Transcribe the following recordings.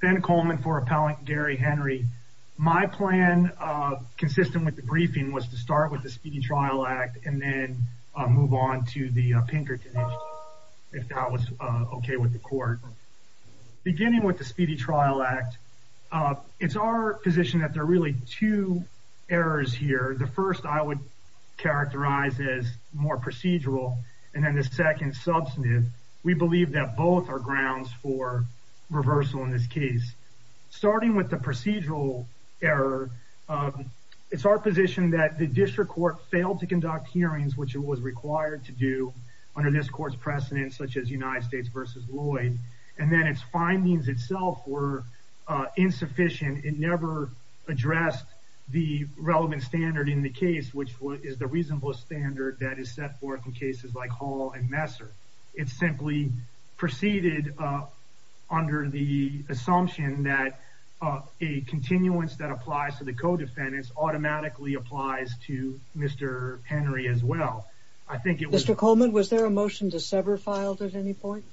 Ben Coleman for appellant Gary Henry. My plan consistent with the briefing was to start with the Speedy Trial Act and then move on to the Pinkerton if that was okay with the court. Beginning with the Speedy Trial Act, it's our position that there are really two errors here. The first I would characterize as more procedural and then the second substantive. We believe that both are controversial in this case. Starting with the procedural error, it's our position that the district court failed to conduct hearings which it was required to do under this court's precedent such as United States v. Lloyd and then its findings itself were insufficient. It never addressed the relevant standard in the case which is the reasonable standard that is set forth in cases like preceded under the assumption that a continuance that applies to the co-defendants automatically applies to Mr. Henry as well. I think it was... Mr. Coleman, was there a motion to sever filed at any point?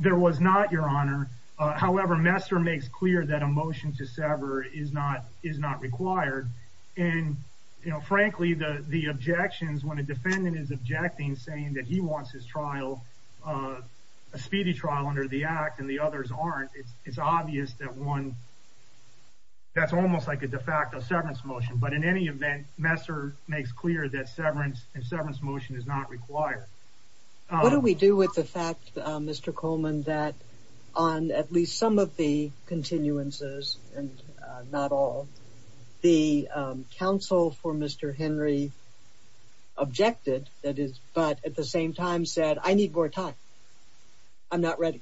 There was not, Your Honor. However, Messer makes clear that a motion to sever is not is not required and you know frankly the the objections when a defendant is objecting saying that he wants his trial, a speedy trial under the act and the others aren't, it's obvious that one... that's almost like a de facto severance motion but in any event, Messer makes clear that severance and severance motion is not required. What do we do with the fact, Mr. Coleman, that on at least some of the continuances and not all, the counsel for Mr. Henry objected that is but at the same time said I need more time. I'm not ready.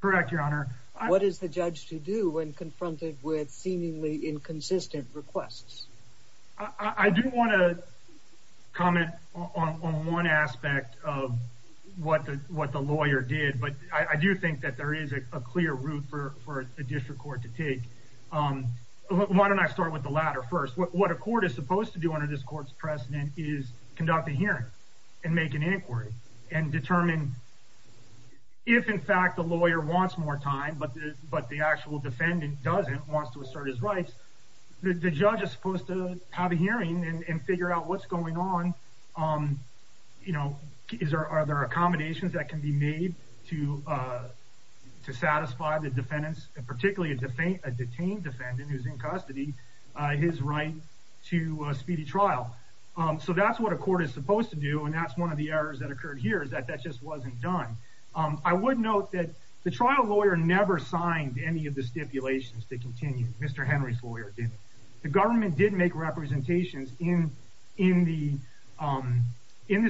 Correct, Your Honor. What is the judge to do when confronted with seemingly inconsistent requests? I do want to comment on one aspect of what the what the lawyer did but I do think that there is a clear route for a district court to take. Why don't I start with the latter first. What a court is supposed to do under this court's precedent is conduct a hearing and make an inquiry and determine if in fact the lawyer wants more time but the actual defendant doesn't, wants to assert his rights, the judge is supposed to have a hearing and figure out what's going on. You know, are there accommodations that can be made to satisfy the defendants and particularly a detained defendant who's in custody, his right to a speedy trial. So that's what a court is supposed to do and that's one of the errors that occurred here is that that just wasn't done. I would note that the trial lawyer never signed any of the stipulations to continue. Mr. Henry's lawyer didn't. The government did make representations in the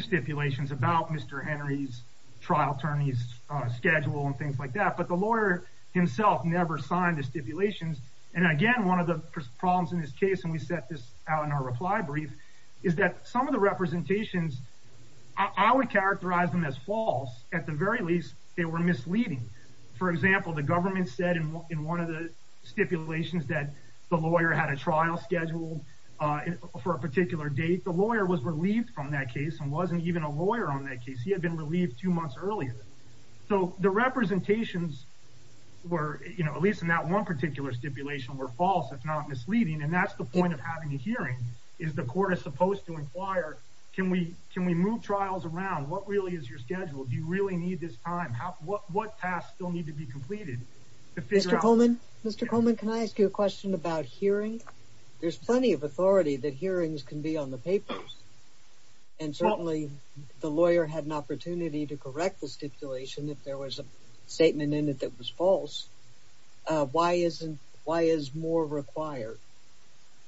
stipulations about Mr. Henry's trial attorney's schedule and things like that but the lawyer himself never signed the stipulations and again one of the problems in this case and we set this out in our reply brief is that some of the representations, I would characterize them as false at the very least they were misleading. For example, the government said in one of the stipulations that the lawyer had a trial scheduled for a particular date. The lawyer was relieved from that case and wasn't even a lawyer on that case. He had been relieved two months earlier. So the representations were, you know, at least in that one particular stipulation were false if not misleading and that's the point of having a hearing is the court is supposed to inquire can we can we move trials around? What really is your schedule? Do you really need this time? What tasks still need to be completed? Mr. Coleman, Mr. Coleman, can I ask you a question about hearing? There's plenty of authority that hearings can be on the papers and certainly the lawyer had an opportunity to correct the false. Why isn't, why is more required?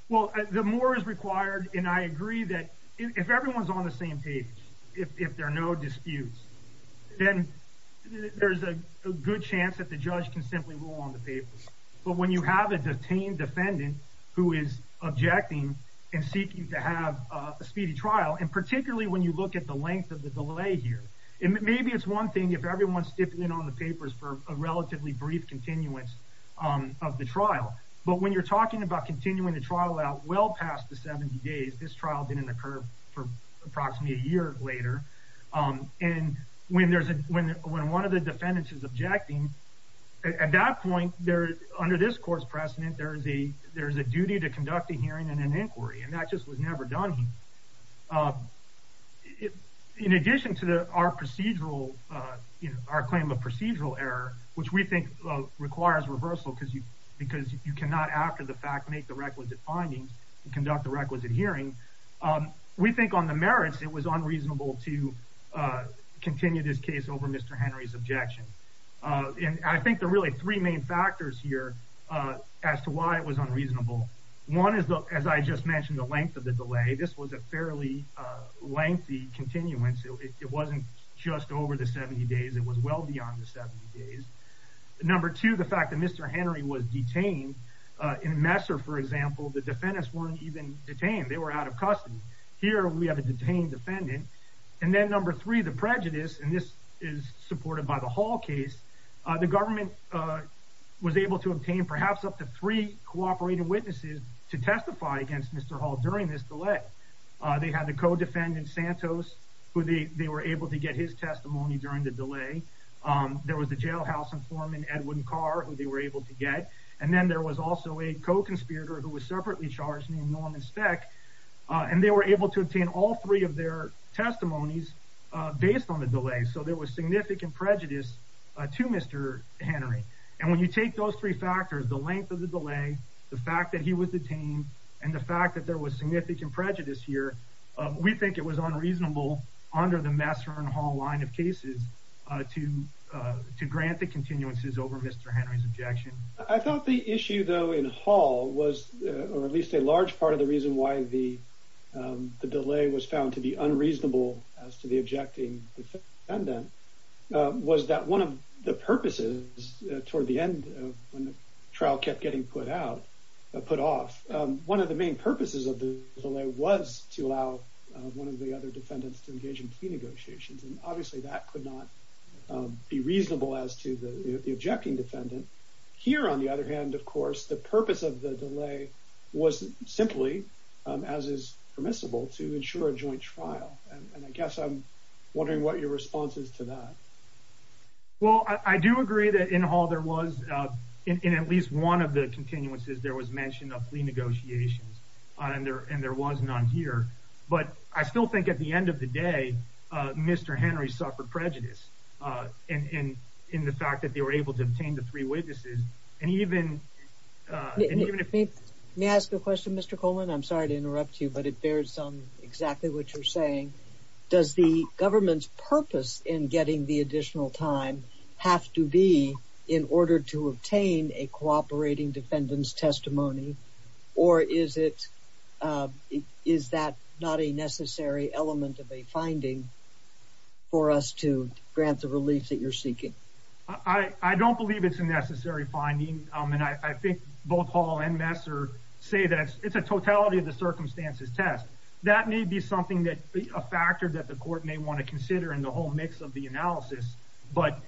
Well, the more is required and I agree that if everyone's on the same page, if there are no disputes, then there's a good chance that the judge can simply rule on the papers. But when you have a detained defendant who is objecting and seeking to have a speedy trial and particularly when you look at the length of the delay here and maybe it's one thing if everyone's dipping in on the papers for a relatively brief continuance of the trial. But when you're talking about continuing the trial out well past the 70 days, this trial didn't occur for approximately a year later, and when there's a, when one of the defendants is objecting, at that point there, under this court's precedent, there's a, there's a duty to conduct a hearing and an inquiry and that just was never done. In addition to our procedural, you know, our claim of procedural error, which we think requires reversal because you, because you cannot after the fact make the requisite findings and conduct the requisite hearing, we think on the merits it was unreasonable to continue this case over Mr. Henry's objection. And I think the really three main factors here as to why it was unreasonable. One is the, as I just mentioned, the length of the delay. This was a fairly lengthy continuance. It wasn't just over the 70 days. It was well beyond the 70 days. Number two, the fact that Mr. Henry was detained. In Messer, for example, the defendants weren't even detained. They were out of custody. Here we have a detained defendant. And then number three, the prejudice, and this is supported by the Hall case. The government was able to obtain perhaps up to three cooperating witnesses to testify against Mr. Hall during this delay. They had the co-defendant Santos, who they were able to get his testimony during the delay. There was a jailhouse informant, Edwin Carr, who they were able to get. And then there was also a co-conspirator who was separately charged named Norman Speck. And they were able to obtain all three of their testimonies based on the delay. So there was significant prejudice to Mr. Henry. And when you take those three factors, the length of the delay, the fact that he was detained, and the fact that there was significant prejudice here, we think it was unreasonable under the Messer and Hall line of cases to grant the continuances over Mr. Henry's objection. I thought the issue, though, in Hall was, or at least a large part of the reason why the delay was found to be unreasonable as to the objecting defendant, was that one of the purposes toward the end, when the trial kept getting put out, put off, one of the main purposes of the delay was to allow one of the other defendants to engage in plea negotiations. And obviously that could not be reasonable as to the objecting defendant. Here, on the other hand, of course, the purpose of the delay was simply, as is permissible, to ensure a joint trial. And I guess I'm wondering what your response is to that. Well, I do agree that in Hall there was, in at least one of the continuances, there was mention of plea negotiations, and there was none here. But I still think at the end of the day, Mr. Henry suffered prejudice in the fact that they were able to obtain the three witnesses. And even if... May I ask a question, Mr. Coleman? I'm sorry to interrupt you, but it bears on exactly what you're saying. Does the government's purpose in getting the additional time have to be in order to obtain a cooperating defendant's testimony? Or is it, is that not a necessary element of a finding for us to grant the relief that you're seeking? I don't believe it's a necessary finding. And I think both Hall and Messer say that it's a totality of the circumstances test. That may be something that a factor that the court may want to consider in the whole mix of the analysis, but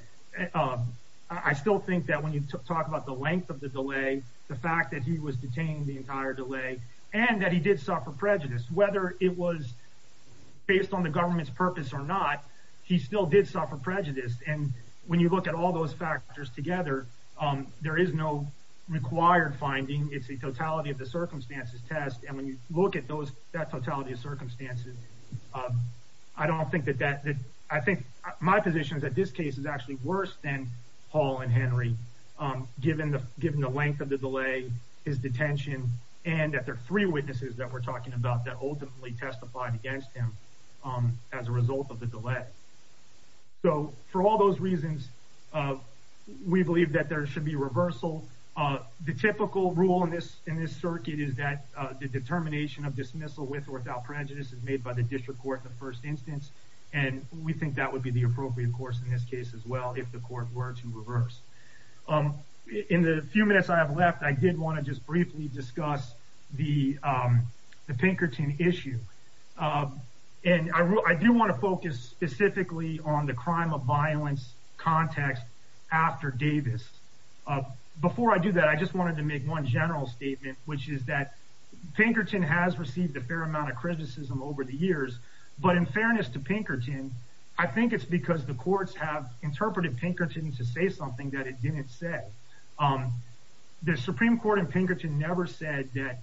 I still think that when you talk about the length of the delay, the fact that he was detained the entire delay, and that he did suffer prejudice, whether it was based on the government's purpose or not, he still did suffer prejudice. And when you look at all those factors together, there is no required finding. It's a totality of the circumstances test. And when you look at those, that totality of circumstances, I don't think that that... I think my position is that this case is actually worse than Hall and Henry, given the length of the delay, his detention, and that there are three witnesses that we're talking about that ultimately testified against him as a result of the delay. So for all those reasons, we believe that there should be reversal. The typical rule in this in this circuit is that the determination of dismissal with or without prejudice is made by the district court in the first instance, and we think that would be the appropriate course in this case as well if the court were to reverse. In the few minutes I have left, I did want to just briefly discuss the Pinkerton issue. And I do want to focus specifically on the crime of violence context after Davis. Before I do that, I just wanted to make one general statement, which is that Pinkerton has received a fair amount of criticism over the years. But in fairness to Pinkerton, I think it's because the courts have interpreted Pinkerton to say something that it didn't say. The Supreme Court in Pinkerton never said that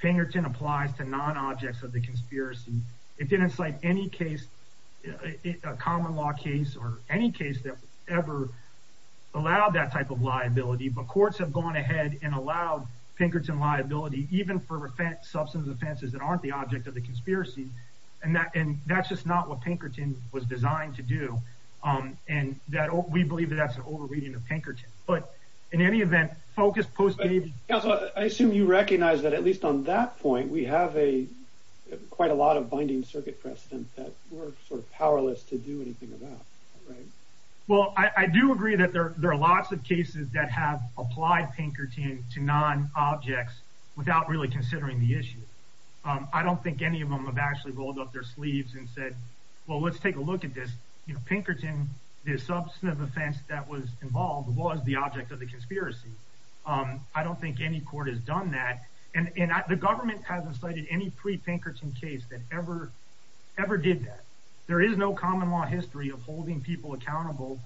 Pinkerton applies to non-objects of the conspiracy. It didn't cite any case, a case or any case that ever allowed that type of liability. But courts have gone ahead and allowed Pinkerton liability even for offense, substance offenses that aren't the object of the conspiracy. And that and that's just not what Pinkerton was designed to do. And that we believe that's an overreading of Pinkerton. But in any event, focus posted. I assume you recognize that at least on that point, we have a quite a lot of binding circuit precedent that we're sort of powerless to do anything about, right? Well, I do agree that there are lots of cases that have applied Pinkerton to non-objects without really considering the issue. I don't think any of them have actually rolled up their sleeves and said, well, let's take a look at this. You know, Pinkerton, the substantive offense that was involved was the object of the conspiracy. I don't think any court has done that. And the government hasn't cited any pre Pinkerton case that ever ever did that. There is no common law history of holding people accountable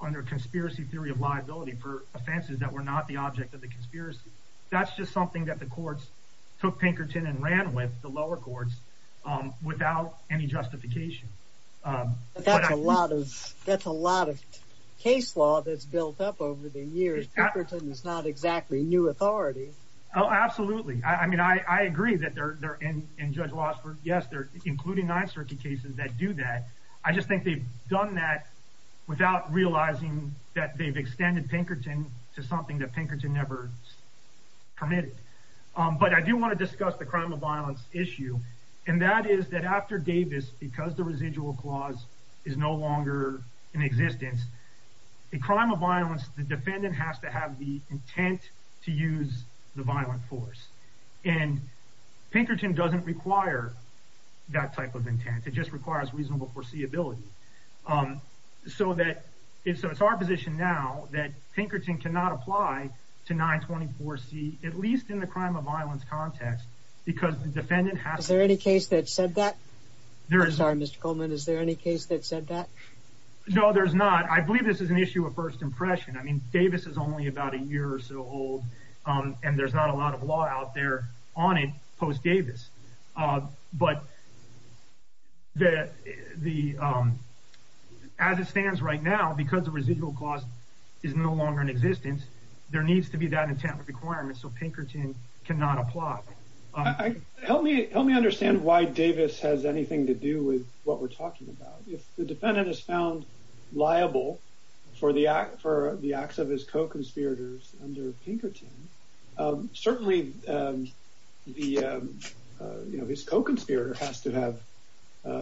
under conspiracy theory of liability for offenses that were not the object of the conspiracy. That's just something that the courts took Pinkerton and ran with the lower courts without any justification. That's a lot of that's a lot of case law that's built up over the years. Pinkerton is not exactly new authority. Absolutely. I mean, I agree that they're there and Judge Lossberg. Yes, they're including nine circuit cases that do that. I just think they've done that without realizing that they've extended Pinkerton to something that Pinkerton never permitted. But I do want to discuss the crime of violence issue, and that is that after Davis, because the residual clause is no longer in existence, the crime of violence, the defendant has to have the intent to use the violent force. And Pinkerton doesn't require that type of intent. It just requires reasonable foreseeability. Um, so that if so, it's our position now that Pinkerton cannot apply to 9 24 C, at least in the crime of violence context, because the defendant has there any case that said that there is our Mr Coleman. Is there any case that said that? No, there's not. I believe this is an issue of first impression. I mean, Davis is only about a year or so old, and there's not a lot of law out there on it. Post Davis. But that the, um, as it stands right now, because the residual cost is no longer in existence, there needs to be that intent requirement. So Pinkerton cannot apply. Help me. Help me understand why Davis has anything to do with what we're talking about. If the defendant is found liable for the act for the acts of his co conspirators under Pinkerton, certainly, um, the, uh, you know, his co conspirator has to have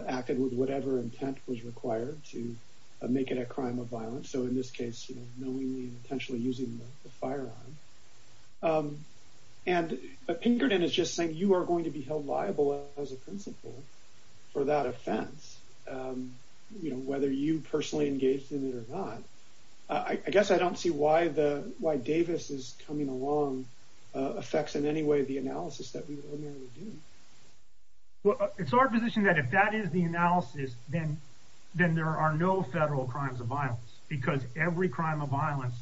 acted with whatever intent was required to make it a crime of violence. So in this case, you know, knowingly and potentially using the firearm. Um, and Pinkerton is just saying you are going to be held liable as a principle for that offense. Um, you know, whether you see why the why Davis is coming along affects in any way the analysis that we well, it's our position that if that is the analysis, then then there are no federal crimes of violence because every crime of violence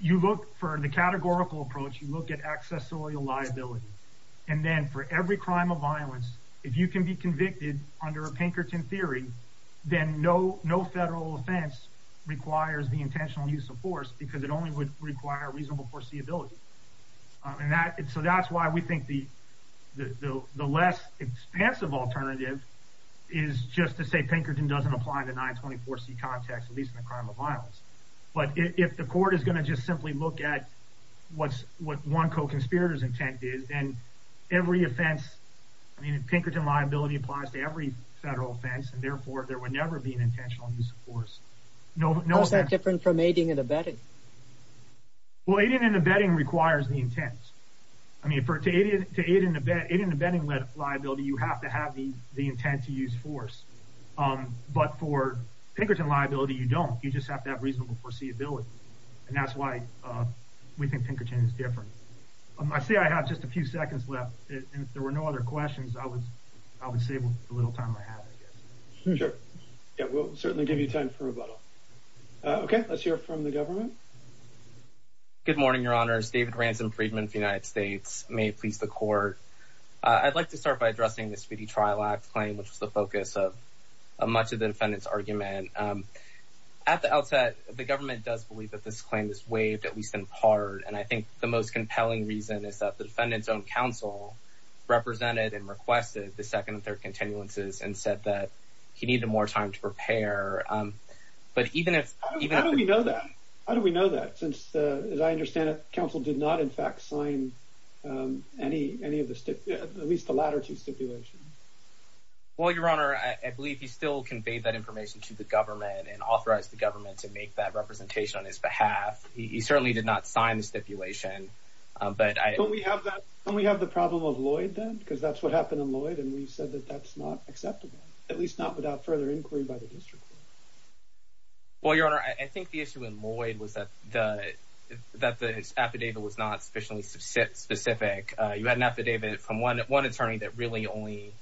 you look for the categorical approach, you look at accessorial liability. And then for every crime of violence, if you can be convicted under a Pinkerton theory, then no, no federal offense requires the intentional use of force because it only would require reasonable foreseeability on that. So that's why we think the less expensive alternative is just to say Pinkerton doesn't apply to 9 24 C context, at least in the crime of violence. But if the court is going to just simply look at what's what one co conspirators intent is, and every offense, I mean, Pinkerton liability applies to every federal offense, and intentional use of force. No, no. Is that different from aiding and abetting? Well, aiding and abetting requires the intent. I mean, for to aid to aid in the bed in the bedding liability, you have to have the intent to use force. Um, but for Pinkerton liability, you don't. You just have to have reasonable foreseeability. And that's why we think Pinkerton is different. I say I have just a few seconds left. There were no other questions. I was I would save a little time. Sure, it will certainly give you time for a bottle. Okay, let's hear from the government. Good morning, Your Honor's David Ransom Friedman. The United States may please the court. I'd like to start by addressing this speedy Trial Act claim, which is the focus of much of the defendant's argument. Um, at the outset, the government does believe that this claim is waived, at least in part. And I think the most compelling reason is that the defendant's own counsel represented and requested the 2nd and 3rd continuances and said that he needed more time to prepare. But even if you know that, how do we know that? Since, as I understand it, counsel did not, in fact, sign any any of the at least the latter two stipulations. Well, Your Honor, I believe he still conveyed that information to the government and authorized the government to make that representation on his behalf. He certainly did not sign the stipulation. But we have that. We have the problem of Lloyd, then, because that's what happened in Lloyd. And we said that that's not acceptable, at least not without further inquiry by the district. Well, Your Honor, I think the issue in Lloyd was that the that the affidavit was not sufficiently specific. You had an affidavit from 1 1 attorney that really only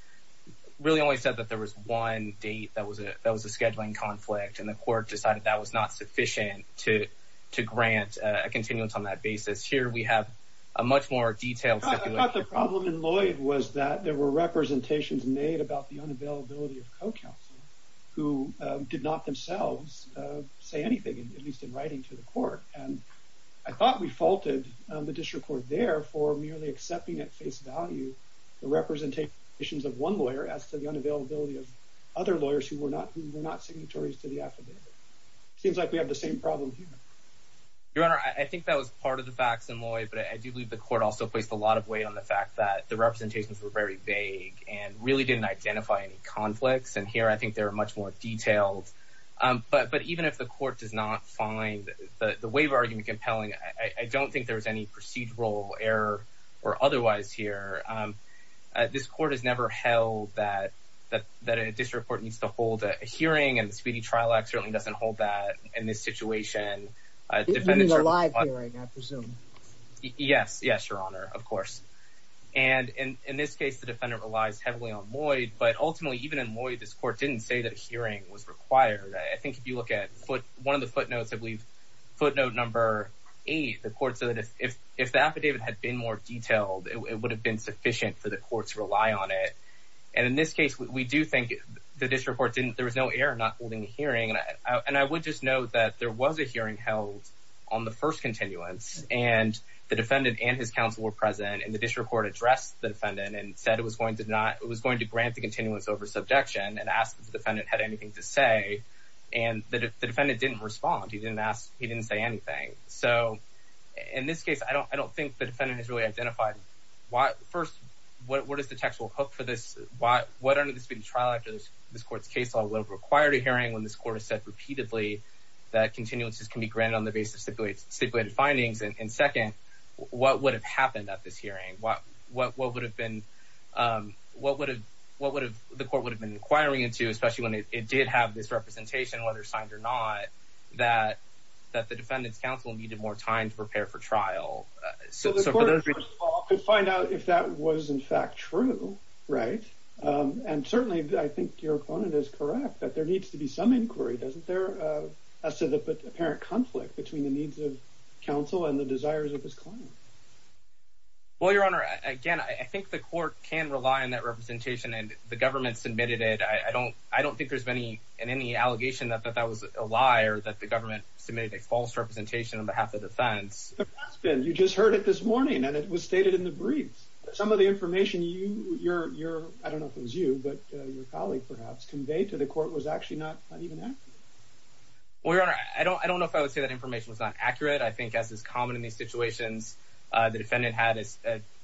really only said that there was one date that was that was a scheduling conflict, and the court decided that was not sufficient to to the problem in Lloyd was that there were representations made about the unavailability of co counsel who did not themselves say anything, at least in writing to the court. And I thought we faulted the district court there for merely accepting at face value the representation of one lawyer as to the unavailability of other lawyers who were not who were not signatories to the affidavit. Seems like we have the same problem. Your Honor, I think that was part of the facts in Lloyd. But I do believe the court also placed a lot of weight on the fact that the representations were very vague and really didn't identify any conflicts. And here I think there are much more detailed. But even if the court does not find the wave argument compelling, I don't think there's any procedural error or otherwise here. This court has never held that that that a district court needs to hold a hearing, and the speedy trial act certainly doesn't hold that in this situation. Defendants are alive. I presume. Yes. Yes, Your Honor. Of course. And in this case, the defendant relies heavily on Lloyd. But ultimately, even in Lloyd, this court didn't say that hearing was required. I think if you look at foot one of the footnotes, I believe footnote number eight, the court said that if the affidavit had been more detailed, it would have been sufficient for the courts rely on it. And in this case, we do think the district court didn't. There was no air not holding the that there was a hearing held on the first continuance, and the defendant and his counsel were present in the district court addressed the defendant and said it was going to not. It was going to grant the continuance over subjection and asked the defendant had anything to say, and the defendant didn't respond. He didn't ask. He didn't say anything. So in this case, I don't I don't think the defendant is really identified. Why? First, what? What is the text will hook for this? Why? What under the speedy trial? After this, this court's case, I will require a hearing when this court has said repeatedly that continuances can be granted on the basis of stipulated findings. And second, what would have happened at this hearing? What? What? What would have been? Um, what would have? What would have? The court would have been inquiring into, especially when it did have this representation, whether signed or not, that that the defendant's counsel needed more time to prepare for trial. So the court could find out if that was in fact true, right? Um, and certainly I think your opponent is correct that there needs to be some inquiry. Doesn't there? Uh, I said that apparent conflict between the needs of counsel and the desires of his client. Well, Your Honor, again, I think the court can rely on that representation, and the government submitted it. I don't I don't think there's any in any allegation that that that was a liar that the government submitted a false representation on behalf of defense. You just heard it this morning, and it was stated in the briefs. Some of the information you you're you're I don't know. We're I don't I don't know if I would say that information was not accurate. I think, as is common in these situations, the defendant had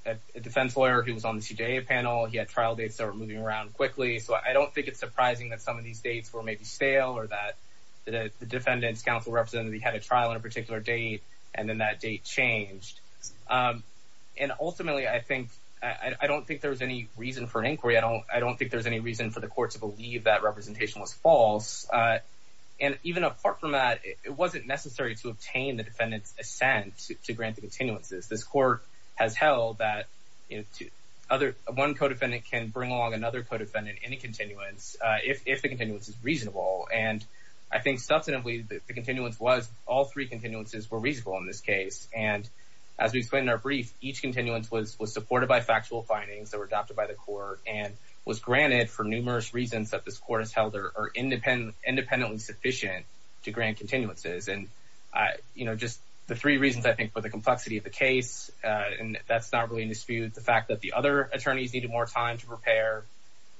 a defense lawyer who was on the panel. He had trial dates that were moving around quickly, so I don't think it's surprising that some of these dates were maybe stale or that the defendant's counsel represented. He had a trial in a particular date, and then that date changed. Um, and ultimately, I think I don't think there's any reason for an inquiry. I don't I don't think there's any reason for the court to believe that representation was false. Uh, and even apart from that, it wasn't necessary to obtain the defendant's assent to grant the continuances. This court has held that other one codefendant can bring along another codefendant in a continuance if the continuance is reasonable. And I think, subsequently, the continuance was all three continuances were reasonable in this case. And as we explained our brief, each continuance was was supported by factual findings that were adopted by the court and was granted for numerous reasons that this independent independently sufficient to grant continuances. And, you know, just the three reasons I think for the complexity of the case, and that's not really in dispute. The fact that the other attorneys needed more time to prepare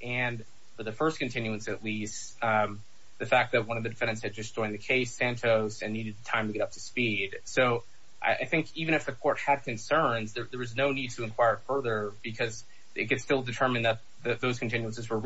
and for the first continuance, at least the fact that one of the defendants had just joined the case Santos and needed time to get up to speed. So I think even if the court had concerns, there was no need to inquire further because it could still determine that those continuances were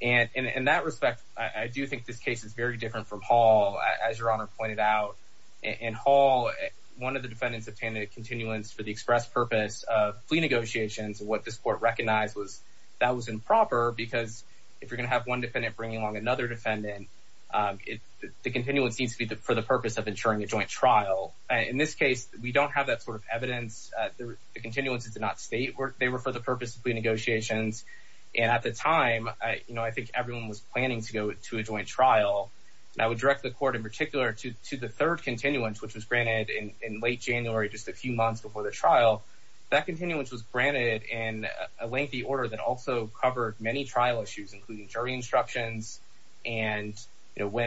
case. And in that respect, I do think this case is very different from Hall, as your honor pointed out, in Hall, one of the defendants obtained a continuance for the express purpose of plea negotiations. What this court recognized was that was improper, because if you're gonna have one defendant bringing on another defendant, the continuance needs to be for the purpose of ensuring a joint trial. In this case, we don't have that sort of evidence. The continuance is not state work. They were for the purpose of plea negotiations. And at the time, I think everyone was planning to go to a joint trial. And I would direct the court in particular to the third continuance, which was granted in late January, just a few months before the trial. That continuance was granted in a lengthy order that also covered many trial issues, including jury instructions and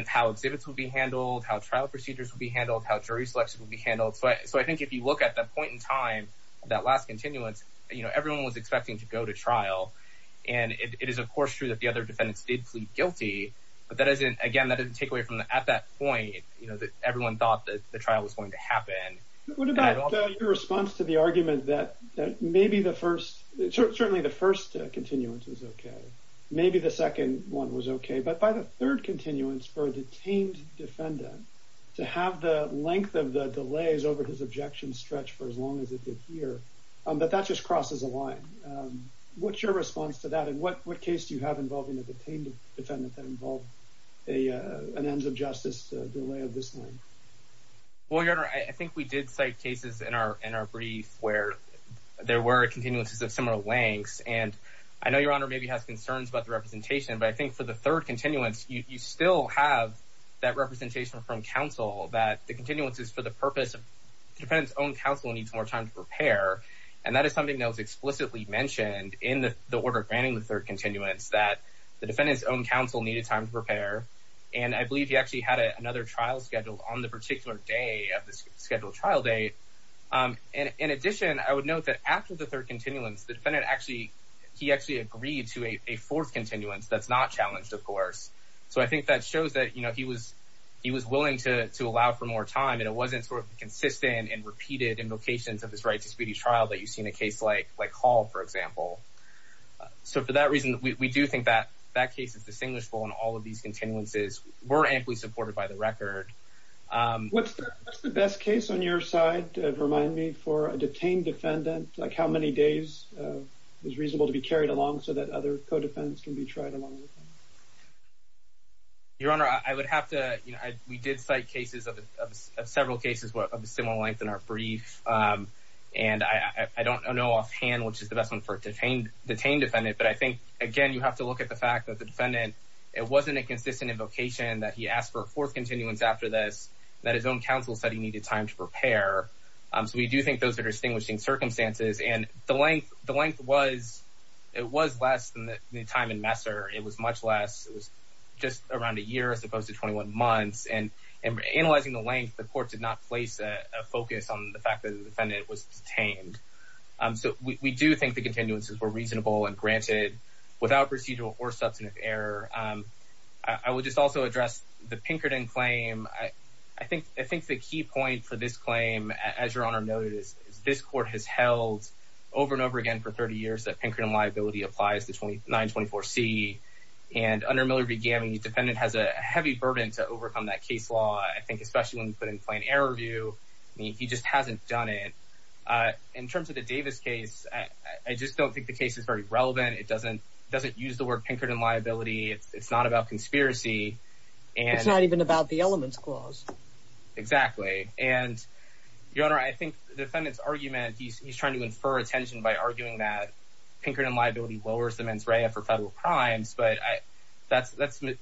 how exhibits would be handled, how trial procedures would be handled, how jury selection would be handled. So I think if you look at that point in time, that last continuance, you know, everyone was expecting to go to trial. And it is, of course, true that the other defendants did plead guilty. But that isn't, again, that didn't take away from at that point, you know, that everyone thought that the trial was going to happen. What about your response to the argument that maybe the first, certainly the first continuance was okay. Maybe the second one was okay. But by the third continuance for a detained defendant to have the length of the delays over his objection stretch for as long as it did here, but that's just crosses a line. What's your response to that? And what case do you have involving a detained defendant that involved an ends of justice delay of this length? Well, Your Honor, I think we did cite cases in our brief where there were continuances of similar lengths. And I know Your Honor maybe has concerns about the representation, but I think for the third continuance, you still have that representation from counsel that the continuance is for the purpose of counsel needs more time to prepare. And that is something that was explicitly mentioned in the order granting the third continuance that the defendant's own counsel needed time to prepare. And I believe he actually had another trial scheduled on the particular day of the scheduled trial date. In addition, I would note that after the third continuance, the defendant actually, he actually agreed to a fourth continuance that's not challenged, of course. So I think that shows that, you know, he was, he was willing to allow for more time. And it wasn't sort of consistent and repeated invocations of his right to speedy trial that you see in a case like, like Hall, for example. So for that reason, we do think that that case is distinguishable. And all of these continuances were amply supported by the record. What's the best case on your side? Remind me for a detained defendant, like how many days is reasonable to be carried along so that other co-defendants can be tried along with them? Your Honor, I would have to, you know, we did cite cases of several cases of similar length in our brief. And I don't know offhand which is the best one for detained, detained defendant. But I think, again, you have to look at the fact that the defendant, it wasn't a consistent invocation that he asked for a fourth continuance after this, that his own counsel said he needed time to prepare. So we do think those are distinguishing circumstances. And the length, the length was, it was less than the time in Messer. It was much less just around a year as opposed to 21 months. And analyzing the length, the court did not place a focus on the fact that the defendant was detained. So we do think the continuances were reasonable and granted without procedural or substantive error. I would just also address the Pinkerton claim. I think the key point for this claim, as Your Honor noted, is this court has held over and over again for 30 years that Pinkerton liability applies to 924C. And under Miller v. Gammy, the defendant has a heavy burden to overcome that case law, I think, especially when you put in plain error view. I mean, he just hasn't done it. In terms of the Davis case, I just don't think the case is very relevant. It doesn't, doesn't use the word Pinkerton liability. It's not about conspiracy. It's not even about the elements clause. Exactly. And, Your Honor, I think the defendant's argument, he's trying to infer attention by but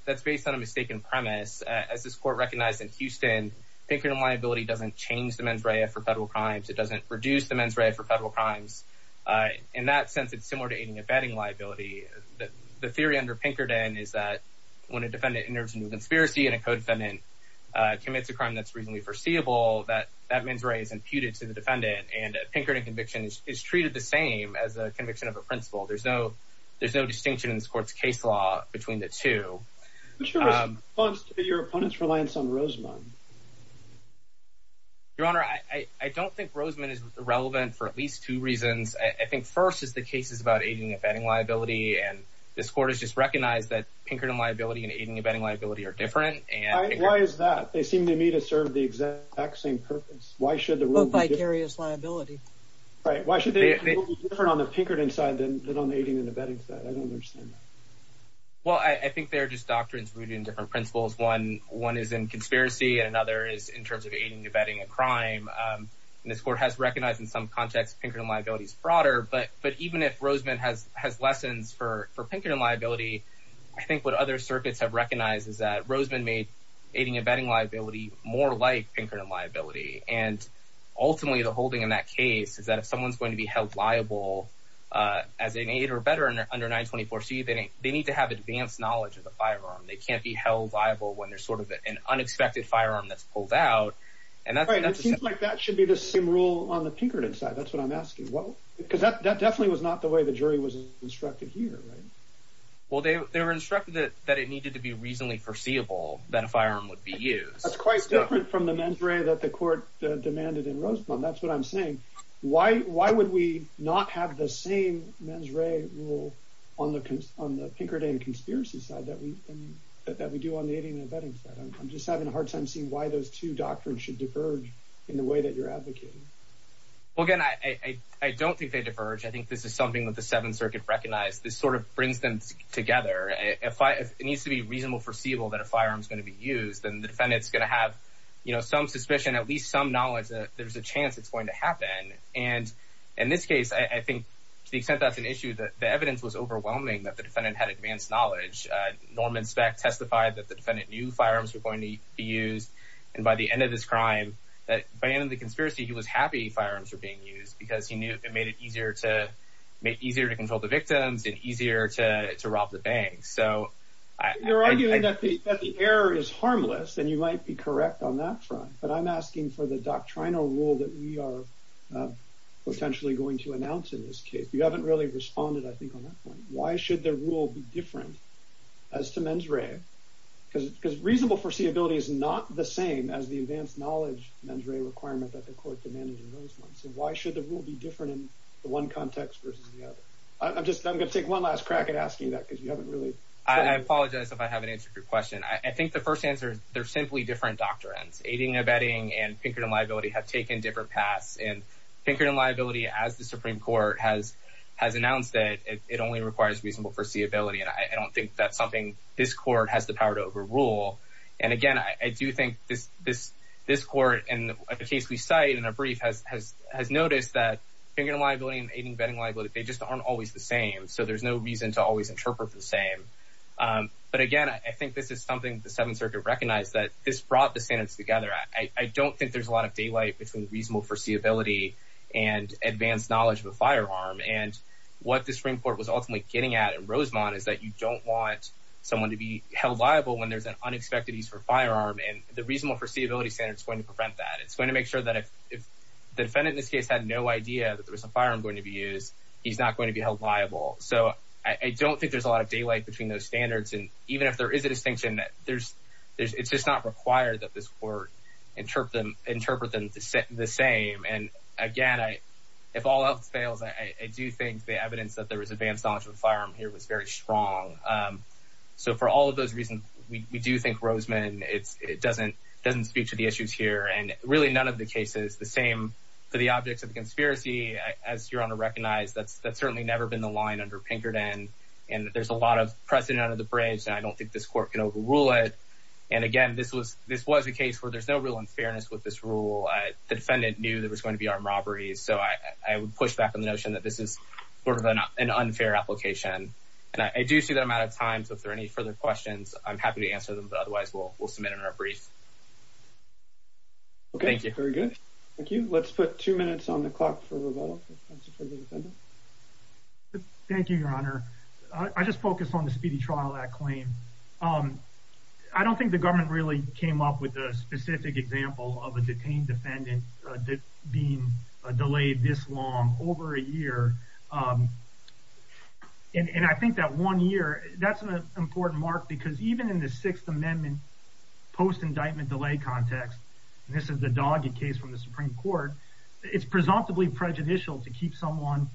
that's based on a mistaken premise. As this court recognized in Houston, Pinkerton liability doesn't change the mens rea for federal crimes. It doesn't reduce the mens rea for federal crimes. In that sense, it's similar to aiding and abetting liability. The theory under Pinkerton is that when a defendant enters into a conspiracy and a co-defendant commits a crime that's reasonably foreseeable, that mens rea is imputed to the defendant. And a Pinkerton conviction is treated the same as a conviction of a principal. There's no distinction in this court's case law between the two. What's your response to your opponent's reliance on Rosemond? Your Honor, I don't think Rosemond is relevant for at least two reasons. I think first is the case is about aiding and abetting liability. And this court has just recognized that Pinkerton liability and aiding and abetting liability are different. Why is that? They seem to me to serve the exact same purpose. Why should the rule be different? Both vicarious liability. Right. Why should the rule be different on the Well, I think they're just doctrines rooted in different principles. One is in conspiracy and another is in terms of aiding and abetting a crime. And this court has recognized in some context Pinkerton liability is broader. But even if Rosemond has lessons for Pinkerton liability, I think what other circuits have recognized is that Rosemond made aiding and abetting liability more like Pinkerton liability. And ultimately, the holding in that case is that if someone's going to be held liable as an aide or better under 924 C, they need to have advanced knowledge of the firearm. They can't be held liable when there's sort of an unexpected firearm that's pulled out. And that seems like that should be the same rule on the Pinkerton side. That's what I'm asking. Well, because that definitely was not the way the jury was instructed here, right? Well, they were instructed that it needed to be reasonably perceivable that a firearm would be used. That's quite different from the mens re that the court demanded in Rosemond. That's what I'm saying. Why? Why would we not have the same mens re rule on the on the Pinkerton conspiracy side that we that we do on the aiding and abetting side? I'm just having a hard time seeing why those two doctrines should diverge in the way that you're advocating. Well, again, I don't think they diverge. I think this is something that the Seventh Circuit recognized. This sort of brings them together. If it needs to be reasonable, foreseeable that a firearm is going to be used, then the defendant's gonna have, you know, some suspicion, at least some knowledge that there's a chance it's going to happen. And in this case, I think to the extent that's an issue that the evidence was overwhelming that the defendant had advanced knowledge. Norman Speck testified that the defendant knew firearms were going to be used. And by the end of this crime, that by the end of the conspiracy, he was happy firearms were being used because he knew it made it easier to make easier to control the victims and easier to rob the bank. So you're arguing that the error is harmless, and you might be correct on that front. But I'm asking for the doctrinal rule that we are potentially going to announce in this case. You haven't really responded, I think, on that point. Why should the rule be different as to mens rea? Because reasonable foreseeability is not the same as the advanced knowledge mens rea requirement that the court demanded in those ones. And why should the rule be different in one context versus the other? I'm just I'm gonna take one last crack at asking that because you haven't really. I apologize if I haven't answered your question. I think the first answer is they're simply different doctrines. Aiding and abetting and Pinkerton liability have taken different paths. And Pinkerton liability, as the Supreme Court has has announced it, it only requires reasonable foreseeability. And I don't think that's something this court has the power to overrule. And again, I do think this this this court and the case we cite in a brief has has has noticed that Pinkerton liability and aiding betting liability, they just aren't always the same. So there's no reason to always interpret the same. But again, I think this is something the Seventh Circuit recognized that this brought the standards together. I don't think there's a lot of daylight between reasonable foreseeability and advanced knowledge of a firearm. And what the Supreme Court was ultimately getting at in Rosemont is that you don't want someone to be held liable when there's an unexpected use for firearm and the reasonable foreseeability standards going to prevent that. It's going to make sure that if the defendant in this case had no idea that there was a firearm going to be used, he's not going to be held liable. So I don't think there's a lot of daylight between those standards. And even if there is a distinction, there's there's it's just not required that this court interpret them, interpret them the same. And again, I, if all else fails, I do think the evidence that there was advanced knowledge of a firearm here was very strong. So for all of those reasons, we do think Rosemont, it's it doesn't doesn't speak to the issues here. And really, none of the cases the same for the objects of conspiracy, as you're going to recognize, that's that's certainly never been the line under Pinkerton. And there's a lot of precedent under the bridge. And I don't think this court can overrule it. And again, this was this was a case where there's no real unfairness with this rule, the defendant knew there was going to be armed robberies. So I would push back on the notion that this is sort of an unfair application. And I do see that I'm out of time. So if there are any further questions, I'm happy to answer them. But otherwise, we'll we'll submit in our brief. Okay, thank you. Very good. Thank you. Let's put two minutes on the clock for for the defendant. Thank you, Your Honor. I just focused on the speedy trial that claim. Um, I don't think the government really came up with a specific example of a detained defendant being delayed this long over a year. And I think that one year that's an important mark, because even in the Sixth Amendment, post indictment delay context, this is the dogged case from the initial to keep someone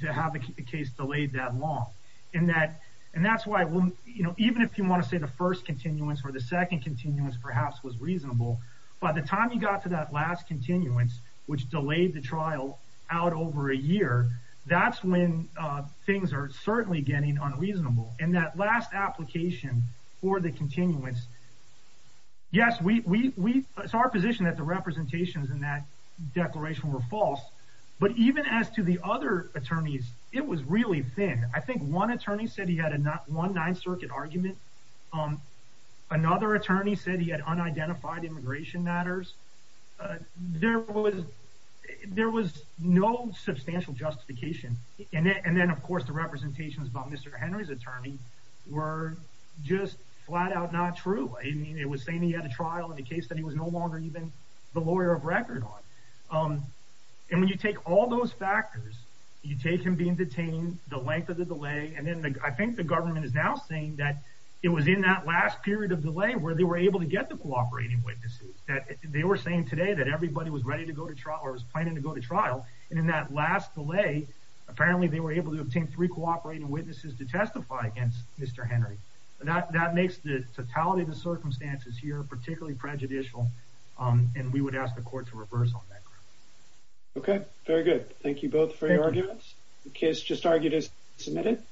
to have a case delayed that long. And that and that's why, you know, even if you want to say the first continuance or the second continuance perhaps was reasonable. By the time you got to that last continuance, which delayed the trial out over a year, that's when things are certainly getting unreasonable. And that last application for the continuance. Yes, we it's our position that the representations in that declaration were but even as to the other attorneys, it was really thin. I think one attorney said he had a not one Ninth Circuit argument. Um, another attorney said he had unidentified immigration matters. Uh, there was there was no substantial justification. And then, of course, the representations about Mr Henry's attorney were just flat out not true. I mean, it was saying he had a trial in the case that he was no longer even the lawyer of record on. Um, and when you take all those factors, you take him being detained the length of the delay, and then I think the government is now saying that it was in that last period of delay where they were able to get the cooperating witnesses that they were saying today that everybody was ready to go to trial or was planning to go to trial. And in that last delay, apparently they were able to obtain three cooperating witnesses to testify against Mr Henry. That that makes the totality of the circumstances here particularly prejudicial. Um, and we would ask the court to reverse on that. Okay. Very good. Thank you both for your arguments. Kiss just argued is submitted.